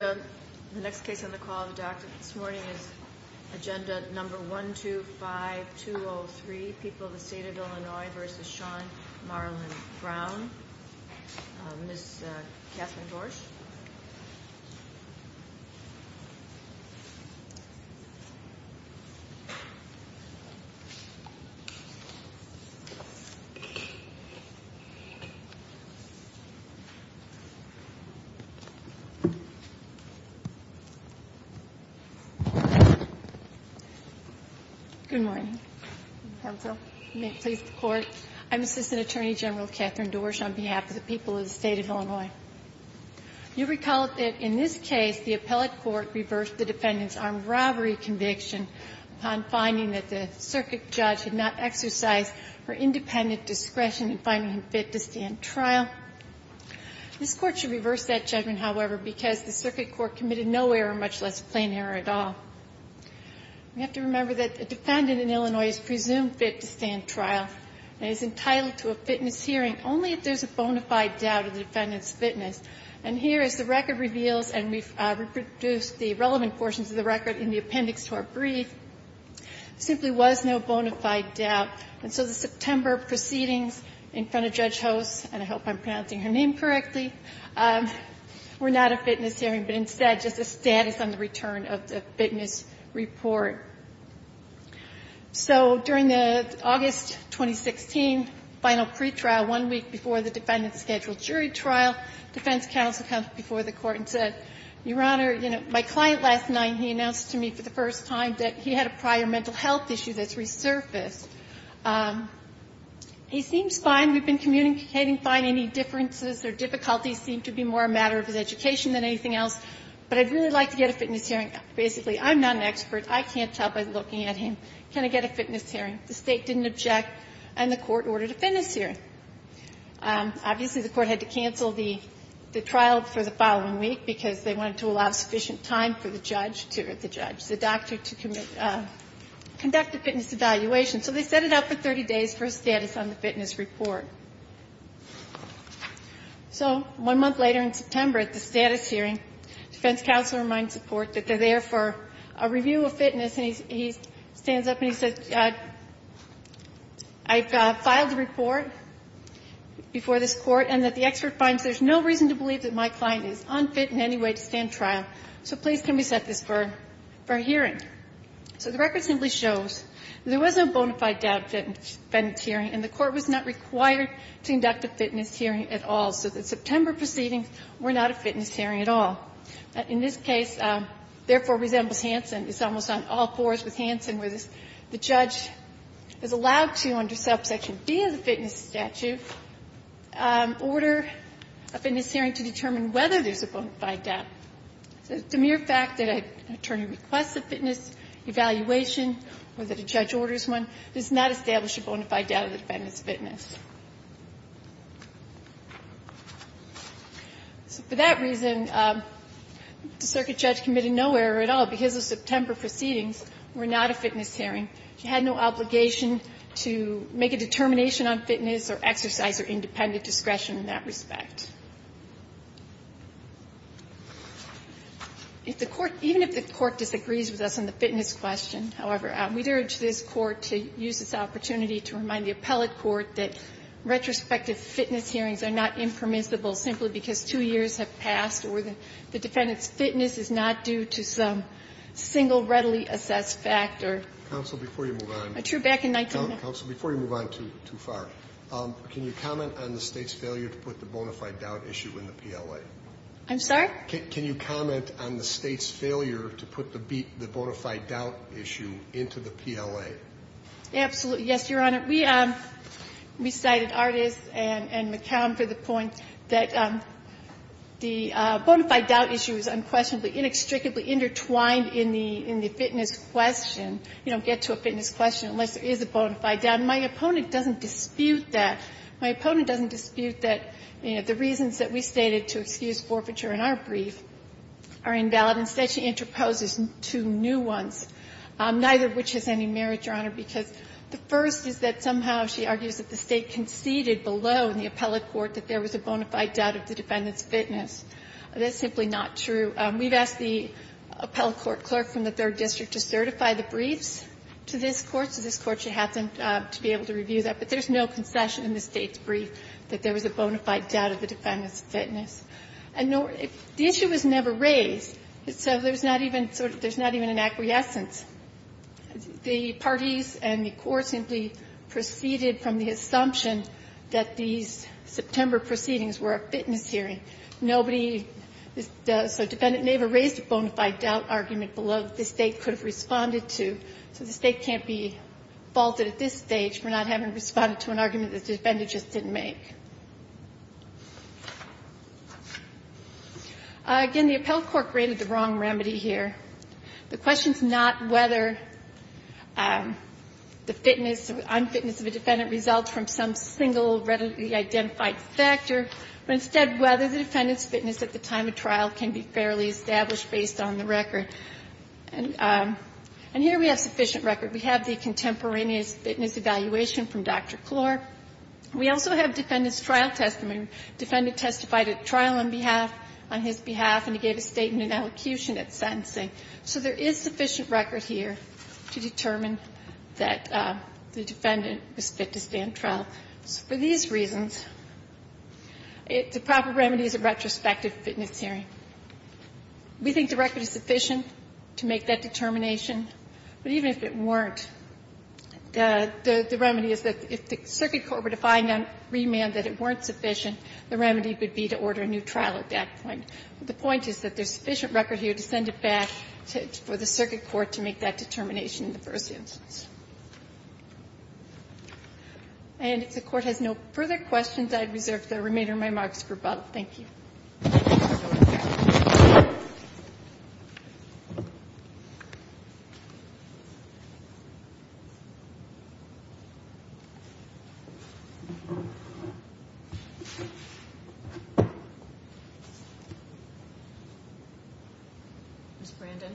The next case on the call of the doctor this morning is agenda number 125203 People of the State of Illinois v. Sean Marlon Brown. Ms. Catherine Dorsch. Dorsch, on behalf of the people of the State of Illinois. You recall that in this case, the appellate court reversed the defendant's armed robbery conviction upon finding that the circuit judge had not exercised her independent discretion in finding him fit to stand trial. This Court should reverse that judgment, however, because the circuit court committed no error, much less plain error at all. We have to remember that a defendant in Illinois is presumed fit to stand trial and is entitled to a fitness hearing only if there's a bona fide doubt of the defendant's fitness. And here, as the record reveals, and we've reproduced the relevant portions of the record in the appendix to our brief, there simply was no bona fide doubt. And so the September proceedings in front of Judge Host, and I hope I'm pronouncing her name correctly, were not a fitness hearing, but instead just a status on the return of the fitness report. So during the August 2016 final pretrial, one week before the defendant's scheduled jury trial, defense counsel comes before the Court and said, Your Honor, you know, my client last night, he announced to me for the first time that he had a prior mental health issue that's resurfaced. He seems fine. We've been communicating fine. Any differences or difficulties seem to be more a matter of his education than anything else. But I'd really like to get a fitness hearing. Basically, I'm not an expert. I can't tell by looking at him. Can I get a fitness hearing? The State didn't object, and the Court ordered a fitness hearing. Obviously, the Court had to cancel the trial for the following week because they wanted to allow sufficient time for the judge to or the judge, the doctor, to conduct a fitness evaluation. So they set it up for 30 days for a status on the fitness report. So one month later in September, at the status hearing, defense counsel reminds the Court that they're there for a review of fitness, and he stands up and he says, I've filed a report before this Court and that the expert finds there's no reason to believe that my client is unfit in any way to stand trial, so please can we set this for a hearing? So the record simply shows there was no bona fide doubt fitness hearing, and the Court was not required to conduct a fitness hearing at all. So the September proceedings were not a fitness hearing at all. In this case, therefore, resembles Hansen. It's almost on all fours with Hansen, where the judge is allowed to, under Section B of the fitness statute, order a fitness hearing to determine whether there's a bona fide doubt. So it's a mere fact that an attorney requests a fitness evaluation or that a judge orders one. There's not established a bona fide doubt of the defendant's fitness. So for that reason, the circuit judge committed no error at all, because the September proceedings were not a fitness hearing. She had no obligation to make a determination on fitness or exercise her independent discretion in that respect. Even if the Court disagrees with us on the fitness question, however, we'd urge this Court to use the opportunity to remind the appellate court that retrospective fitness hearings are not impermissible simply because two years have passed or the defendant's fitness is not due to some single readily assessed factor. Roberts. Counsel, before you move on. True, back in 1990. Counsel, before you move on too far, can you comment on the State's failure to put the bona fide doubt issue in the PLA? I'm sorry? Can you comment on the State's failure to put the bona fide doubt issue into the PLA? Absolutely. Yes, Your Honor. We cited Artis and McCown for the point that the bona fide doubt issue is unquestionably, inextricably intertwined in the fitness question. You don't get to a fitness question unless there is a bona fide doubt. And my opponent doesn't dispute that. My opponent doesn't dispute that the reasons that we stated to excuse forfeiture in our brief are invalid. Instead, she interposes two new ones, neither of which has any merit, Your Honor, because the first is that somehow she argues that the State conceded below in the appellate court that there was a bona fide doubt of the defendant's fitness. That's simply not true. We've asked the appellate court clerk from the Third District to certify the briefs to this Court, so this Court should have them to be able to review that. But there's no concession in the State's brief that there was a bona fide doubt of the defendant's fitness. And the issue was never raised, so there's not even sort of an acquiescence. The parties and the court simply proceeded from the assumption that these September proceedings were a fitness hearing. Nobody, so the defendant never raised a bona fide doubt argument below that the State could have responded to. So the State can't be faulted at this stage for not having responded to an argument that the defendant just didn't make. Again, the appellate court graded the wrong remedy here. The question is not whether the fitness, unfitness of a defendant results from some single readily identified factor, but instead whether the defendant's fitness at the time of trial can be fairly established based on the record. And here we have sufficient record. We have the contemporaneous fitness evaluation from Dr. Klor. We also have defendant's trial testimony. Defendant testified at trial on behalf, on his behalf, and he gave a statement in elocution at sentencing. So there is sufficient record here to determine that the defendant was fit to stand trial. So for these reasons, the proper remedy is a retrospective fitness hearing. We think the record is sufficient to make that determination, but even if it weren't, the remedy is that if the circuit court were to find on remand that it weren't sufficient, the remedy would be to order a new trial at that point. But the point is that there's sufficient record here to send it back for the circuit court to make that determination in the first instance. And if the Court has no further questions, I'd reserve the remainder of my remarks for both. Thank you. Ms. Brandon.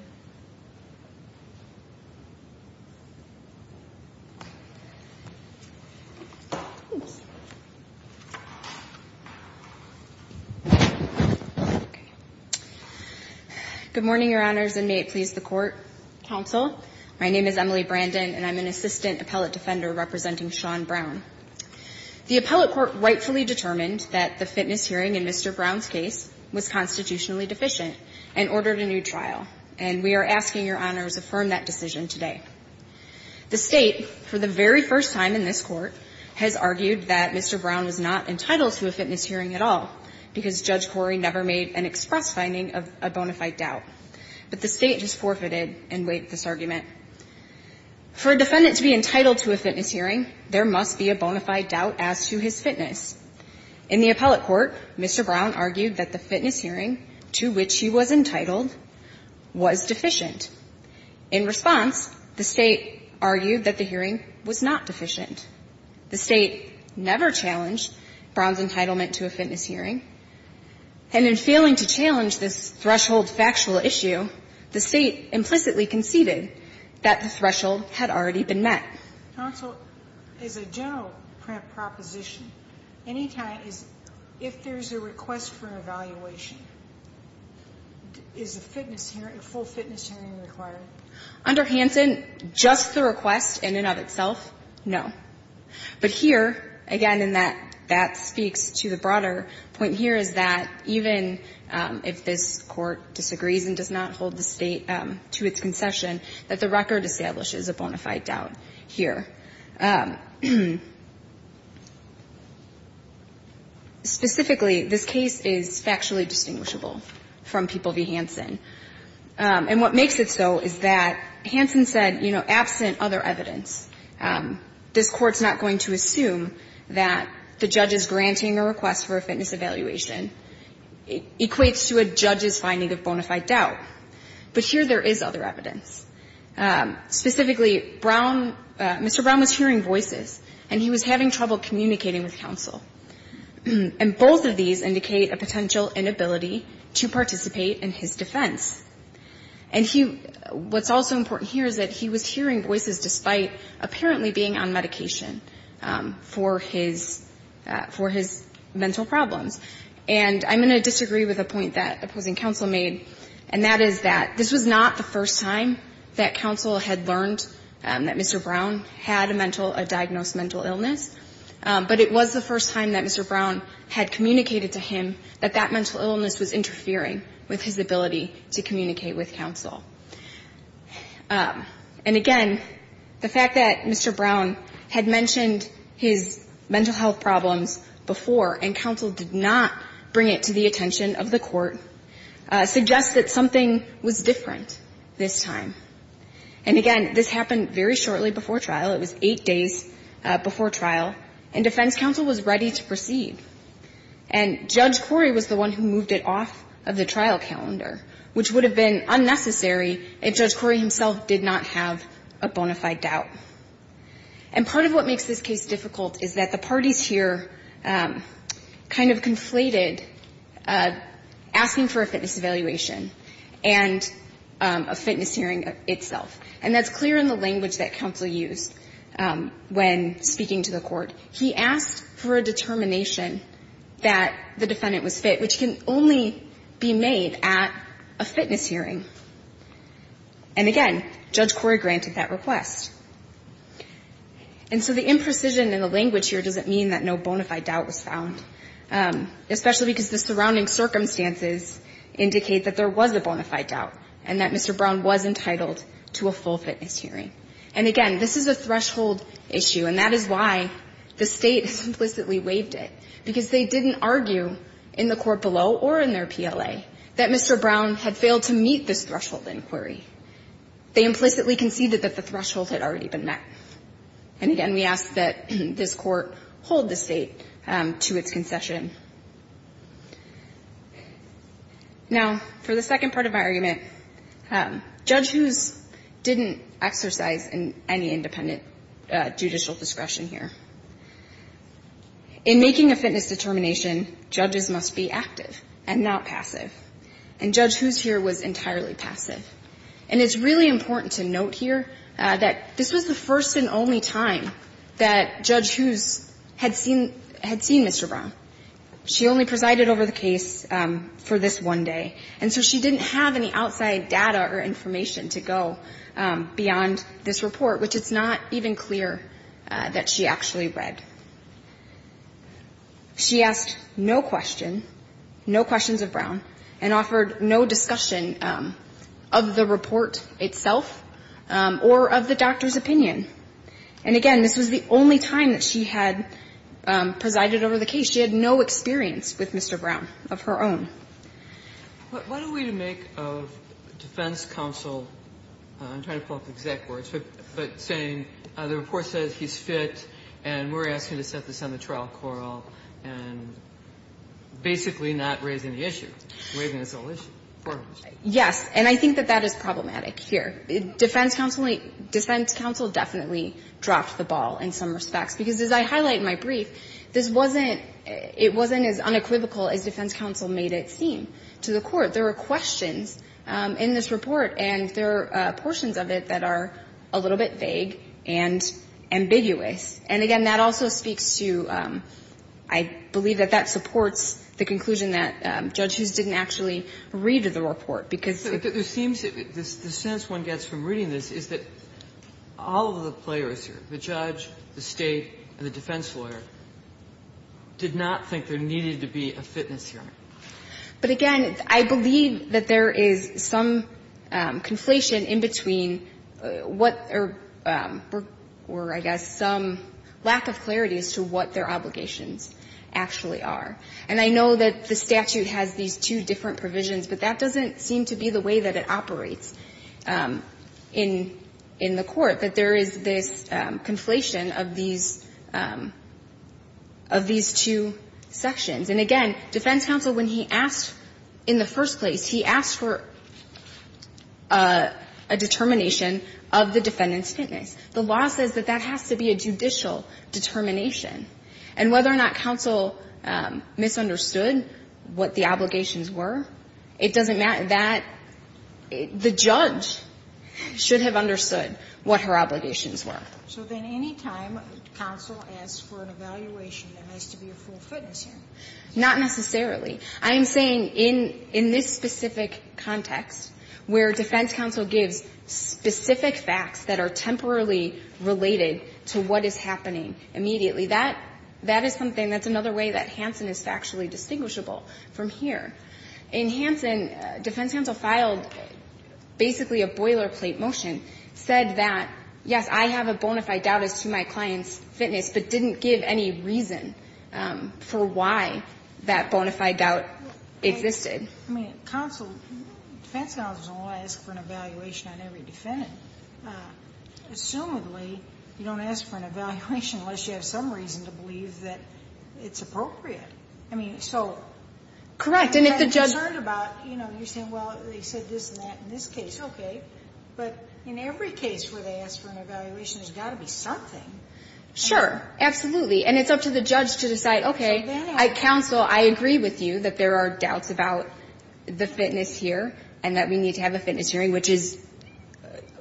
Good morning, Your Honors, and may it please the Court, Counsel, my name is Emily Brandon and I'm an Assistant Appellate Defender representing Sean Brown. The Appellate Court rightfully determined that the fitness hearing in Mr. Brown's case was constitutionally deficient and ordered a new trial, and we are asking Your Honors to affirm that decision today. The State, for the very first time in this Court, has argued that Mr. Brown was not entitled to a fitness hearing at all because Judge Corey never made an express finding of a bona fide doubt, but the State has forfeited and weighed this argument. For a defendant to be entitled to a fitness hearing, there must be a bona fide doubt as to his fitness. In the Appellate Court, Mr. Brown argued that the fitness hearing to which he was entitled was deficient. In response, the State argued that the hearing was not deficient. The State never challenged Brown's entitlement to a fitness hearing, and in failing to challenge this threshold factual issue, the State implicitly conceded that the threshold had already been met. Counsel, as a general proposition, if there's a request for evaluation, is a fitness hearing, a full fitness hearing, required? Under Hanson, just the request in and of itself, no. But here, again, and that speaks to the broader point here is that even if this Court disagrees and does not hold the State to its concession, that the record establishes a bona fide doubt. Here. Specifically, this case is factually distinguishable from People v. Hanson. And what makes it so is that Hanson said, you know, absent other evidence, this Court's not going to assume that the judge's granting a request for a fitness evaluation equates to a judge's finding of bona fide doubt. But here there is other evidence. Specifically, Brown, Mr. Brown was hearing voices, and he was having trouble communicating with counsel. And both of these indicate a potential inability to participate in his defense. And he, what's also important here is that he was hearing voices despite apparently being on medication for his, for his mental problems. And I'm going to disagree with a point that opposing counsel made, and that is that this was not the first time that counsel had learned that Mr. Brown had a mental, a diagnosed mental illness, but it was the first time that Mr. Brown had communicated to him that that mental illness was interfering with his ability to communicate with counsel. And again, the fact that Mr. Brown had mentioned his mental health problems before and counsel did not bring it to the attention of the Court suggests that something was different this time. And again, this happened very shortly before trial. It was eight days before trial, and defense counsel was ready to proceed. And Judge Corey was the one who moved it off of the trial calendar, which would have been unnecessary if Judge Corey himself did not have a bona fide doubt. And part of what makes this case difficult is that the parties here kind of conflated asking for a fitness evaluation and a fitness hearing itself. And that's clear in the language that counsel used when speaking to the Court. He asked for a determination that the defendant was fit, which can only be made at a fitness hearing. And again, Judge Corey granted that request. And so the imprecision in the language here doesn't mean that no bona fide doubt was found, especially because the surrounding circumstances indicate that there was a bona fide doubt and that Mr. Brown was entitled to a full fitness hearing. And again, this is a threshold issue. And that is why the State implicitly waived it, because they didn't argue in the Court below or in their PLA that Mr. Brown had failed to meet this threshold inquiry. They implicitly conceded that the threshold had already been met. And again, we ask that this Court hold the State to its concession. Now, for the second part of my argument, Judge Hoos didn't exercise any independent judicial discretion here. In making a fitness determination, judges must be active and not passive. And Judge Hoos here was entirely passive. And it's really important to note here that this was the first and only time that Judge Hoos had seen Mr. Brown. She only presided over the case for this one day. And so she didn't have any outside data or information to go beyond this report, which it's not even clear that she actually read. She asked no question, no questions of Brown, and offered no discussion of the report itself or of the doctor's opinion. And again, this was the only time that she had presided over the case. She had no experience with Mr. Brown of her own. What are we to make of defense counsel, I'm trying to pull up the exact words, but saying the report says he's fit and we're asking to set this on the trial coroll and basically not raising the issue, waiving the solution for him? Yes, and I think that that is problematic here. Defense counsel definitely dropped the ball in some respects. Because as I highlight in my brief, this wasn't, it wasn't as unequivocal as defense counsel made it seem to the court. There were questions in this report and there are portions of it that are a little bit vague and ambiguous. And again, that also speaks to, I believe that that supports the conclusion that Judge Hughes didn't actually read the report. Because it seems that the sense one gets from reading this is that all of the players here, the judge, the State, and the defense lawyer, did not think there needed to be a fitness hearing. But again, I believe that there is some conflation in between what, or I guess some lack of clarity as to what their obligations actually are. And I know that the statute has these two different provisions, but that doesn't seem to be the way that it operates in the court, that there is this conflation of these, of these two sections. And again, defense counsel, when he asked in the first place, he asked for a determination of the defendant's fitness. The law says that that has to be a judicial determination. And whether or not counsel misunderstood what the obligations were, it doesn't matter. That, the judge should have understood what her obligations were. Sotomayor, so then any time counsel asks for an evaluation, there has to be a full fitness hearing. Not necessarily. I am saying in, in this specific context, where defense counsel gives specific facts that are temporarily related to what is happening immediately. That, that is something, that's another way that Hansen is factually distinguishable from here. In Hansen, defense counsel filed basically a boilerplate motion, said that, yes, I have a bona fide doubt as to my client's fitness, but didn't give any reason for why that bona fide doubt existed. I mean, counsel, defense counsel doesn't want to ask for an evaluation on every defendant. Assumedly, you don't ask for an evaluation unless you have some reason to believe that it's appropriate. I mean, so. Correct. And if the judge. You're concerned about, you know, you're saying, well, they said this and that in this case, okay. But in every case where they ask for an evaluation, there's got to be something. Sure. Absolutely. And it's up to the judge to decide, okay, I counsel, I agree with you that there are doubts about the fitness here and that we need to have a fitness hearing, which is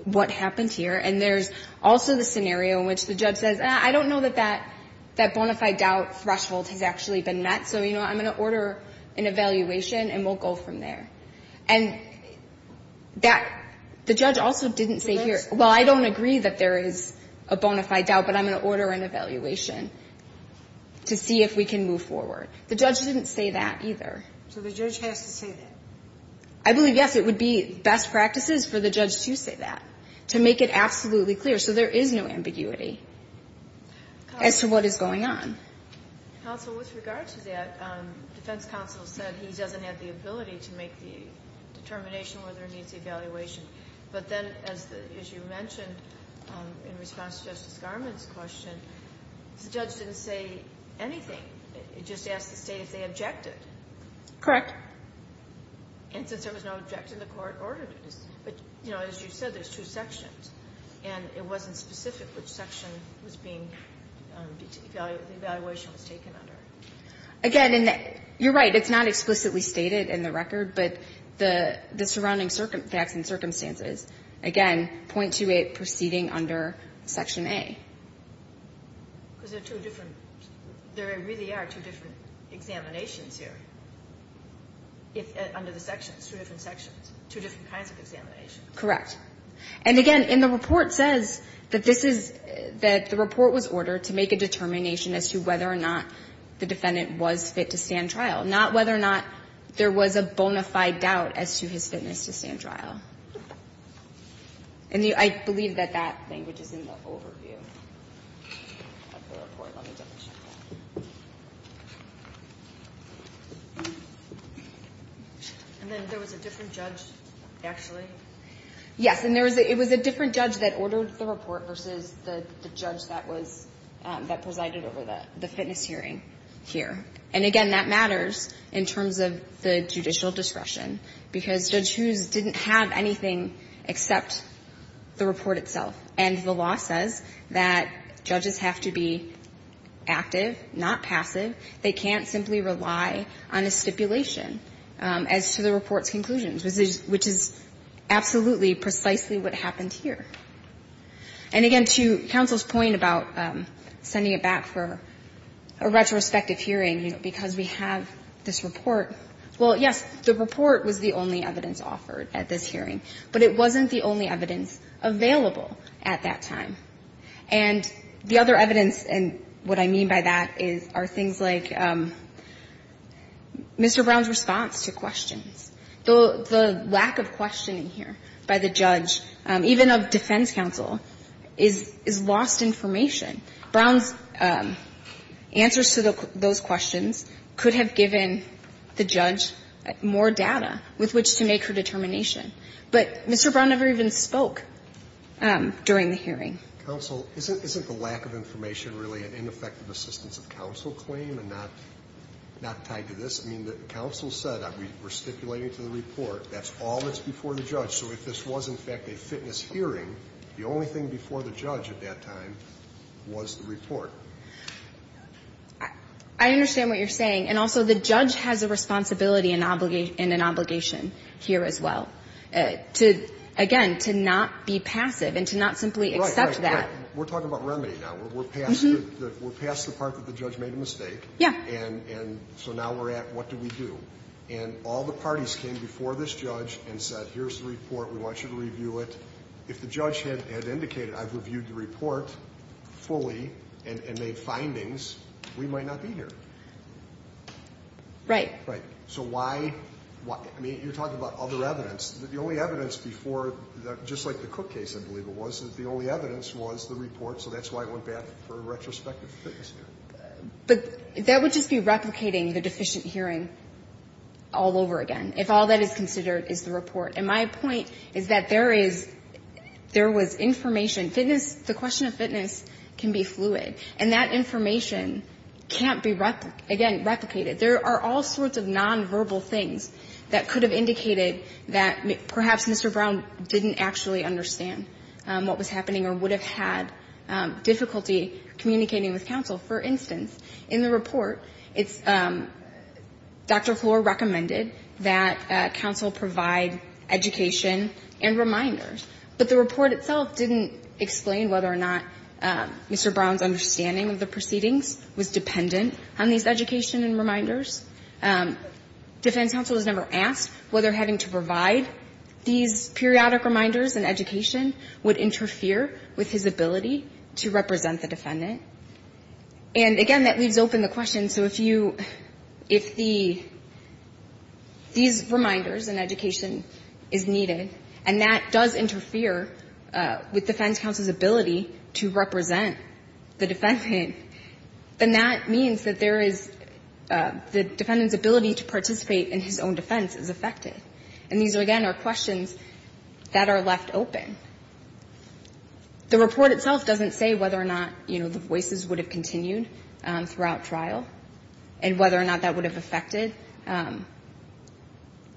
what happened here. And there's also the scenario in which the judge says, I don't know that that bona fide doubt threshold has actually been met. So, you know, I'm going to order an evaluation and we'll go from there. And that, the judge also didn't say here. Well, I don't agree that there is a bona fide doubt, but I'm going to order an evaluation to see if we can move forward. The judge didn't say that either. So the judge has to say that. I believe, yes, it would be best practices for the judge to say that, to make it absolutely clear. So there is no ambiguity as to what is going on. Counsel, with regard to that, defense counsel said he doesn't have the ability to make the determination whether it needs evaluation. But then, as you mentioned, in response to Justice Garmon's question, the judge didn't say anything. It just asked the State if they objected. Correct. And since there was no objection, the court ordered it. But, you know, as you said, there's two sections. And it wasn't specific which section was being, the evaluation was taken under. Again, and you're right, it's not explicitly stated in the record, but the surrounding facts and circumstances, again, .28 proceeding under Section A. Because there are two different, there really are two different examinations here, under the sections, two different sections, two different kinds of examinations. Correct. And again, in the report says that this is, that the report was ordered to make a determination as to whether or not the defendant was fit to stand trial. Not whether or not there was a bona fide doubt as to his fitness to stand trial. And I believe that that thing, which is in the overview of the report, let me double check that. And then there was a different judge, actually? Yes, and there was a, it was a different judge that ordered the report versus the judge that was, that presided over the fitness hearing here. And again, that matters in terms of the judicial discretion. Because Judge Hughes didn't have anything except the report itself. And the law says that judges have to be active, not passive. They can't simply rely on a stipulation as to the report's conclusions, which is absolutely precisely what happened here. And again, to counsel's point about sending it back for a retrospective hearing, because we have this report. Well, yes, the report was the only evidence offered at this hearing. But it wasn't the only evidence available at that time. And the other evidence, and what I mean by that is, are things like Mr. Brown's response to questions. The lack of questioning here by the judge, even of defense counsel, is lost information. Brown's answers to those questions could have given the judge more data with which to make her determination. But Mr. Brown never even spoke during the hearing. Counsel, isn't the lack of information really an ineffective assistance of counsel claim and not tied to this? I mean, the counsel said, we're stipulating to the report, that's all that's before the judge. So if this was, in fact, a fitness hearing, the only thing before the judge at that time was the report. I understand what you're saying. And also, the judge has a responsibility and an obligation here as well. To, again, to not be passive and to not simply accept that. Right, right, right. We're talking about remedy now. We're past the part that the judge made a mistake. Yeah. And so now we're at, what do we do? And all the parties came before this judge and said, here's the report. We want you to review it. If the judge had indicated, I've reviewed the report fully and made findings, we might not be here. Right. Right. So why? I mean, you're talking about other evidence. The only evidence before, just like the Cook case, I believe it was, the only evidence was the report. So that's why it went back for a retrospective fitness hearing. But that would just be replicating the deficient hearing all over again, if all that is considered is the report. And my point is that there is, there was information. Fitness, the question of fitness can be fluid. And that information can't be, again, replicated. There are all sorts of nonverbal things that could have indicated that perhaps Mr. Brown didn't actually understand what was happening or would have had difficulty communicating with counsel. For instance, in the report, it's, Dr. Floor recommended that counsel provide education and reminders. But the report itself didn't explain whether or not Mr. Brown's understanding of the proceedings was dependent on these education and reminders. Defense counsel was never asked whether having to provide these periodic reminders and education would interfere with his ability to represent the defendant. And, again, that leaves open the question, so if you, if the, these reminders and education is needed, and that does interfere with defense counsel's ability to represent the defendant, then that means that there is, the defendant's ability to participate in his own defense is affected. And these, again, are questions that are left open. The report itself doesn't say whether or not, you know, the voices would have continued throughout trial and whether or not that would have affected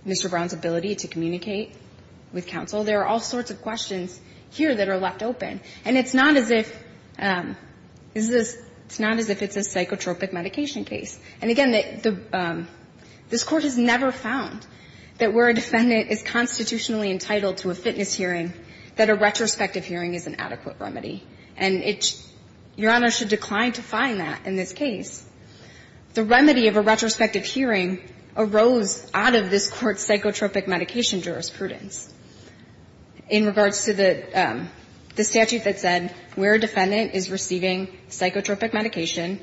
Mr. Brown's ability to communicate with counsel. There are all sorts of questions here that are left open. And it's not as if, it's not as if it's a psychotropic medication case. And, again, the, this Court has never found that where a defendant is constitutionally entitled to a fitness hearing, that a retrospective hearing is an adequate remedy. And it's, Your Honor should decline to find that in this case. The remedy of a retrospective hearing arose out of this Court's psychotropic medication jurisprudence. In regards to the statute that said where a defendant is receiving psychotropic medication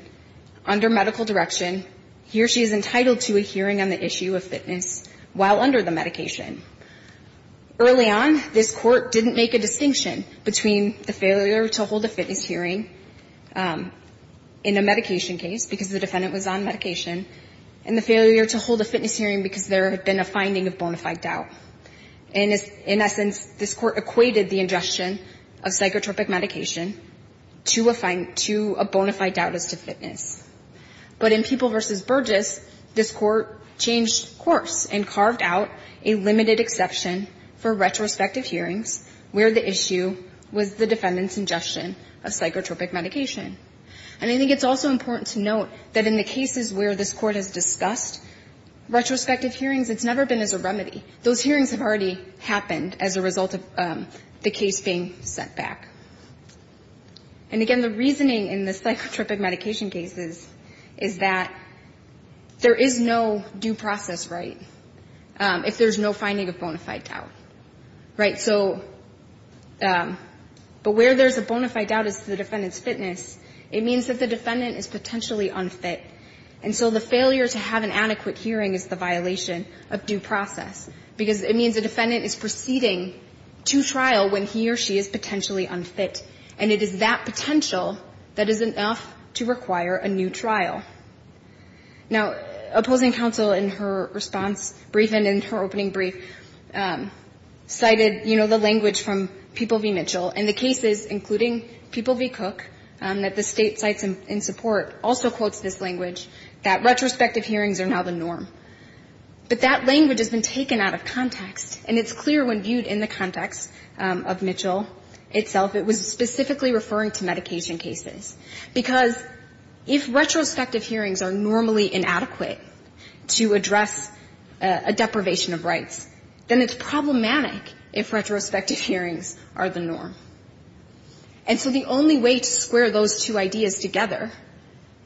under medical direction, he or she is entitled to a hearing on the issue of fitness while under the medication. Early on, this Court didn't make a distinction between the failure to hold a fitness hearing in a medication case, because the defendant was on medication, and the failure to hold a fitness hearing because there had been a finding of bona fide doubt. And in essence, this Court equated the ingestion of psychotropic medication to a bona fide doubt as to fitness. But in People v. Burgess, this Court changed course and carved out a limited exception for retrospective hearings where the issue was the defendant's ingestion of psychotropic medication. And I think it's also important to note that in the cases where this Court has discussed retrospective hearings, it's never been as a remedy. Those hearings have already happened as a result of the case being sent back. And again, the reasoning in the psychotropic medication cases is that there is no due process right if there's no finding of bona fide doubt. Right? So, but where there's a bona fide doubt is the defendant's fitness. It means that the defendant is potentially unfit. And so the failure to have an adequate hearing is the violation of due process, because it means the defendant is proceeding to trial when he or she is potentially unfit. And it is that potential that is enough to require a new trial. Now, opposing counsel in her response brief and in her opening brief cited, you know, the language from People v. Mitchell. And the cases, including People v. Cook, that the State cites in support, also quotes this language, that retrospective hearings are now the norm. But that language has been taken out of context. And it's clear when viewed in the context of Mitchell itself, it was specifically referring to medication cases. Because if retrospective hearings are normally inadequate to address a deprivation of rights, then it's problematic if retrospective hearings are the norm. And so the only way to square those two ideas together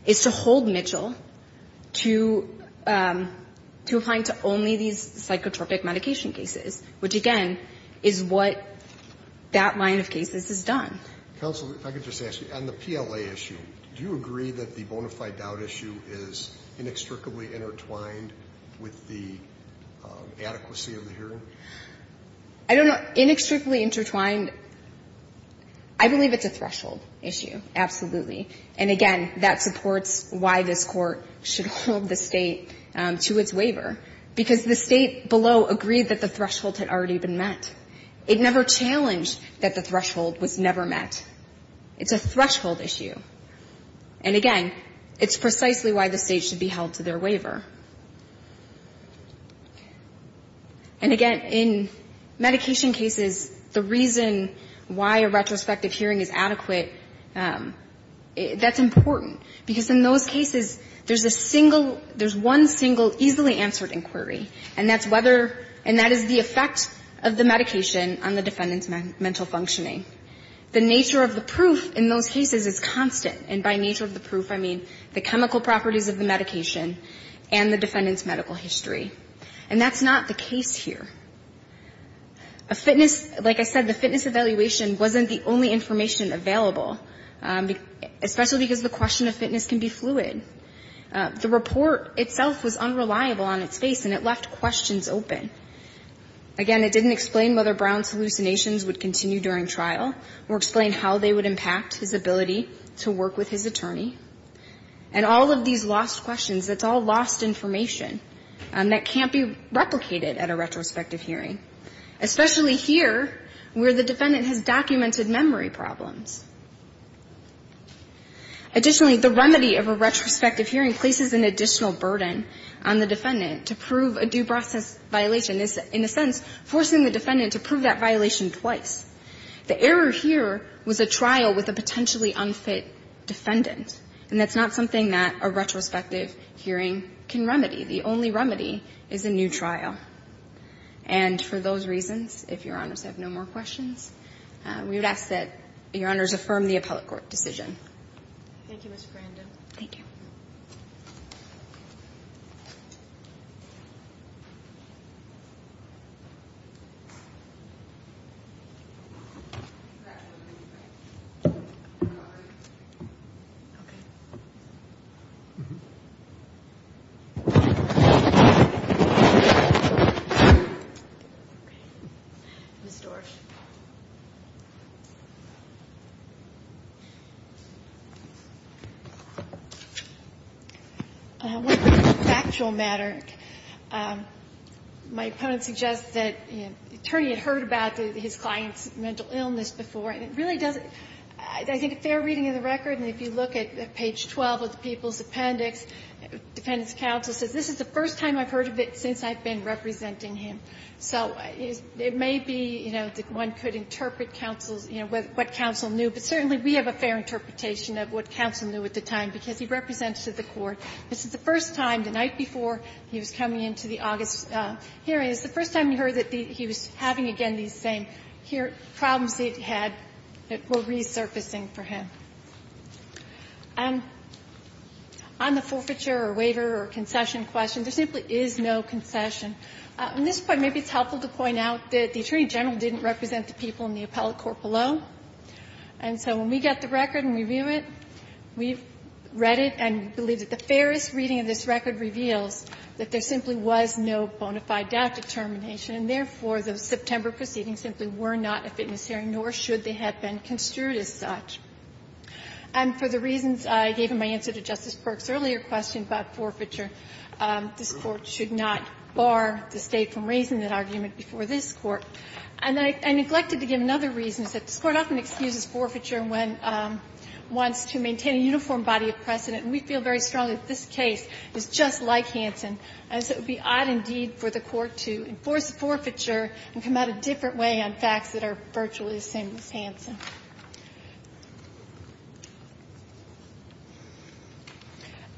is to hold Mitchell to the statute to apply to only these psychotropic medication cases, which, again, is what that line of cases has done. Counsel, if I could just ask you, on the PLA issue, do you agree that the bona fide doubt issue is inextricably intertwined with the adequacy of the hearing? I don't know. Inextricably intertwined, I believe it's a threshold issue, absolutely. And, again, that supports why this Court should hold the State to its waiver. Because the State below agreed that the threshold had already been met. It never challenged that the threshold was never met. It's a threshold issue. And, again, it's precisely why the State should be held to their waiver. And, again, in medication cases, the reason why a retrospective hearing is adequate is because, again, it's not a question of whether the defendant's medical history is consistent with the defendant's medical history. That's important. Because in those cases, there's a single one single easily answered inquiry, and that's whether, and that is the effect of the medication on the defendant's mental functioning. The nature of the proof in those cases is constant. And by nature of the proof, I mean the chemical properties of the medication and the defendant's medical history. And that's not the case here. A fitness, like I said, the fitness evaluation wasn't the only information available, especially because the question of fitness can be fluid. The report itself was unreliable on its face, and it left questions open. Again, it didn't explain whether Brown's hallucinations would continue during trial or explain how they would impact his ability to work with his attorney. And all of these lost questions, that's all lost information that can't be replicated at a retrospective hearing, especially here where the defendant has documented memory problems. Additionally, the remedy of a retrospective hearing places an additional burden on the defendant to prove a due process violation. It's, in a sense, forcing the defendant to prove that violation twice. The error here was a trial with a potentially unfit defendant. And that's not something that a retrospective hearing can remedy. The only remedy is a new trial. And for those reasons, if Your Honors have no more questions, we would ask that Your Honors affirm the appellate court decision. Thank you, Mr. Brando. Thank you. Ms. Dorff. When it comes to factual matter, my opponent suggests that the attorney had heard about his client's mental illness before, and it really doesn't – I think a fair reading of the record, and if you look at page 12 of the People's Appendix, defendant's counsel says this is the first time I've heard of it since I've been representing him. So it may be, you know, that one could interpret counsel's, you know, what counsel knew, but certainly we have a fair interpretation of what counsel knew at the time because he represented the court. This is the first time, the night before he was coming into the August hearing, this is the first time we heard that he was having, again, the same problems that he had that were resurfacing for him. On the forfeiture or waiver or concession question, there simply is no concession. At this point, maybe it's helpful to point out that the attorney general didn't represent the people in the appellate court below. And so when we got the record and review it, we've read it and believe that the fairest reading of this record reveals that there simply was no bona fide death determination, and therefore the September proceedings simply were not a fitness hearing, nor should they have been construed as such. And for the reasons I gave in my answer to Justice Perks' earlier question about forfeiture, this Court should not bar the State from raising that argument before this Court. And I neglected to give another reason. It's that this Court often excuses forfeiture when it wants to maintain a uniform body of precedent. And we feel very strongly that this case is just like Hansen. And so it would be odd, indeed, for the Court to enforce the forfeiture and come out a different way on facts that are virtually the same as Hansen.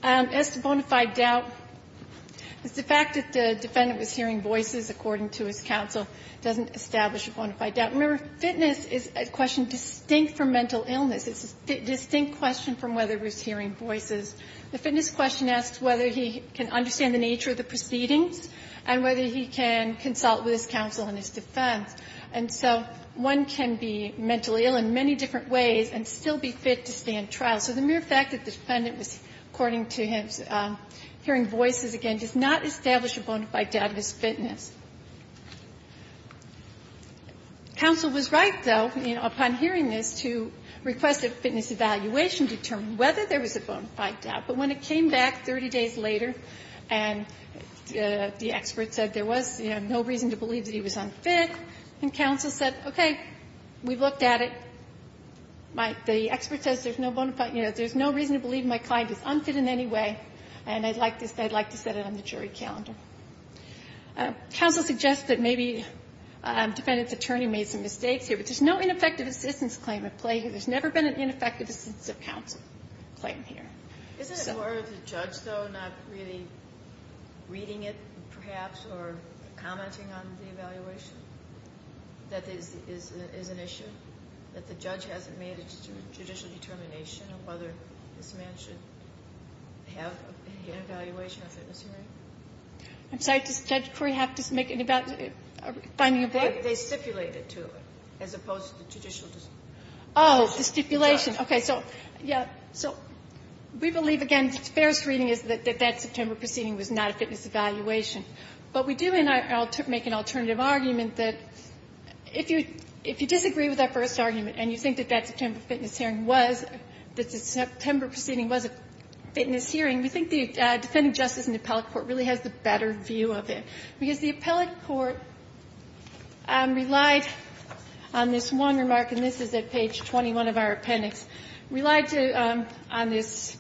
As to bona fide doubt, it's the fact that the defendant was hearing voices, according to his counsel, doesn't establish a bona fide doubt. Remember, fitness is a question distinct from mental illness. It's a distinct question from whether he was hearing voices. The fitness question asks whether he can understand the nature of the proceedings and whether he can consult with his counsel in his defense. And so one can be mentally ill in many different ways and still be fit to stand trial. So the mere fact that the defendant was, according to him, hearing voices again does not establish a bona fide doubt in his fitness. Counsel was right, though, upon hearing this, to request a fitness evaluation to determine whether there was a bona fide doubt. But when it came back 30 days later and the expert said there was no reason to believe that he was unfit, and counsel said, okay, we've looked at it. The expert says there's no reason to believe my client is unfit in any way, and I'd like to set it on the jury calendar. Counsel suggests that maybe defendant's attorney made some mistakes here, but there's no ineffective assistance claim at play here. There's never been an ineffective assistance of counsel claim here. Isn't it more of the judge, though, not really reading it, perhaps, or commenting on the evaluation that is an issue, that the judge hasn't made a judicial determination of whether this man should have an evaluation of fitness hearing? I'm sorry. Does the judiciary have to make a finding of that? They stipulate it, too, as opposed to the judicial. Oh, the stipulation. Okay. So, yeah. So we believe, again, the fairest reading is that that September proceeding was not a fitness evaluation. But we do make an alternative argument that if you disagree with that first argument and you think that that September fitness hearing was, that the September proceeding was a fitness hearing, we think the Defendant Justice and Appellate Court really has the better view of it, because the Appellate Court relied on this one remark, and this is at page 21 of our appendix, relied to, on this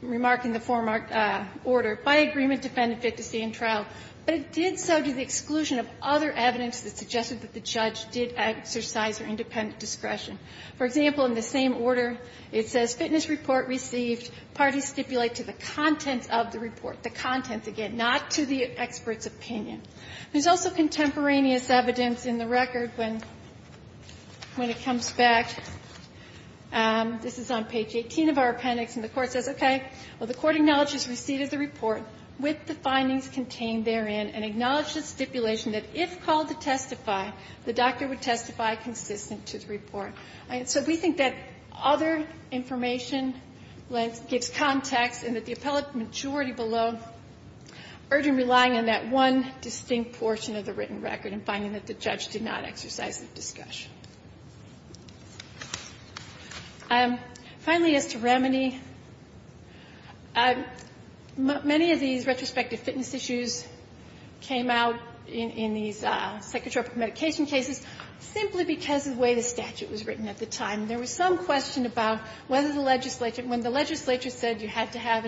remark in the foremark order, by agreement defendant fit to stay in trial, but it did so due to the exclusion of other evidence that suggested that the judge did exercise their independent discretion. For example, in the same order, it says fitness report received. Parties stipulate to the contents of the report. The contents, again, not to the expert's opinion. There's also contemporaneous evidence in the record when it comes back. This is on page 18 of our appendix. And the Court says, okay, well, the Court acknowledges receipt of the report with the findings contained therein and acknowledges stipulation that if called to testify, the doctor would testify consistent to the report. So we think that other information gives context and that the appellate majority below urge in relying on that one distinct portion of the written record in finding that the judge did not exercise his discretion. Finally, as to remedy, many of these retrospective fitness issues came out in these psychotropic medication cases simply because of the way the statute was written at the time. There was some question about whether the legislature, when the legislature said you had to have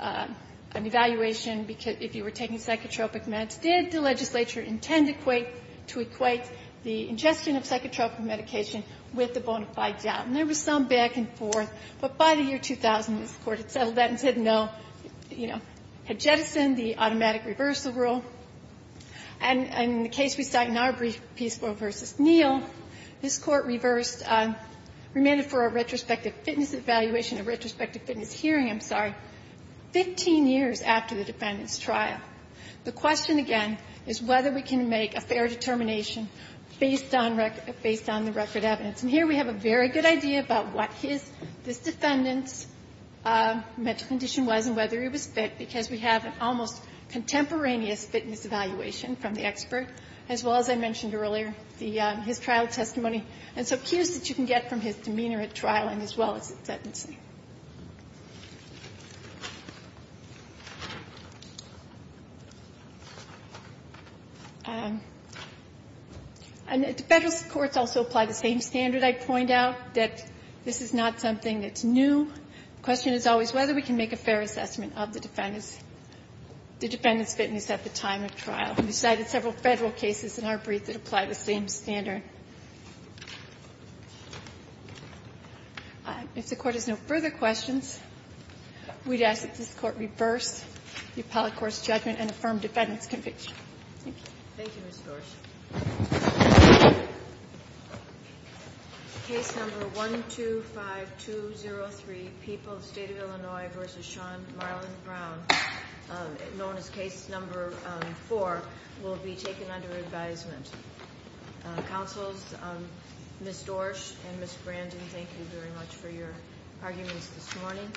an evaluation if you were taking psychotropic meds, did the legislature intend to equate the ingestion of psychotropic medication with the bona fide doubt? And there was some back and forth. But by the year 2000, this Court had settled that and said no. You know, had jettisoned the automatic reversal rule. And in the case we cite in our brief, Peaceful v. Neal, this Court reversed, remanded for a retrospective fitness evaluation, a retrospective fitness hearing, I'm sorry, 15 years after the defendant's trial. The question, again, is whether we can make a fair determination based on record or based on the record evidence. And here we have a very good idea about what his defendant's medical condition was and whether he was fit, because we have an almost contemporaneous fitness evaluation from the expert, as well as I mentioned earlier, his trial testimony. And so cues that you can get from his demeanor at trial and as well as his sentencing. And the Federal courts also apply the same standard. I point out that this is not something that's new. The question is always whether we can make a fair assessment of the defendant's fitness at the time of trial. We cited several Federal cases in our brief that apply the same standard. If the Court has no further questions, we'd ask that this Court reverse the appellate court's judgment and affirm defendant's conviction. Thank you. Ginsburg. Case number 125203, People, State of Illinois v. Sean Marlin Brown, known as case number 4, will be taken under advisement. Counsels, Ms. Dorsch and Ms. Brandon, thank you very much for your arguments this morning.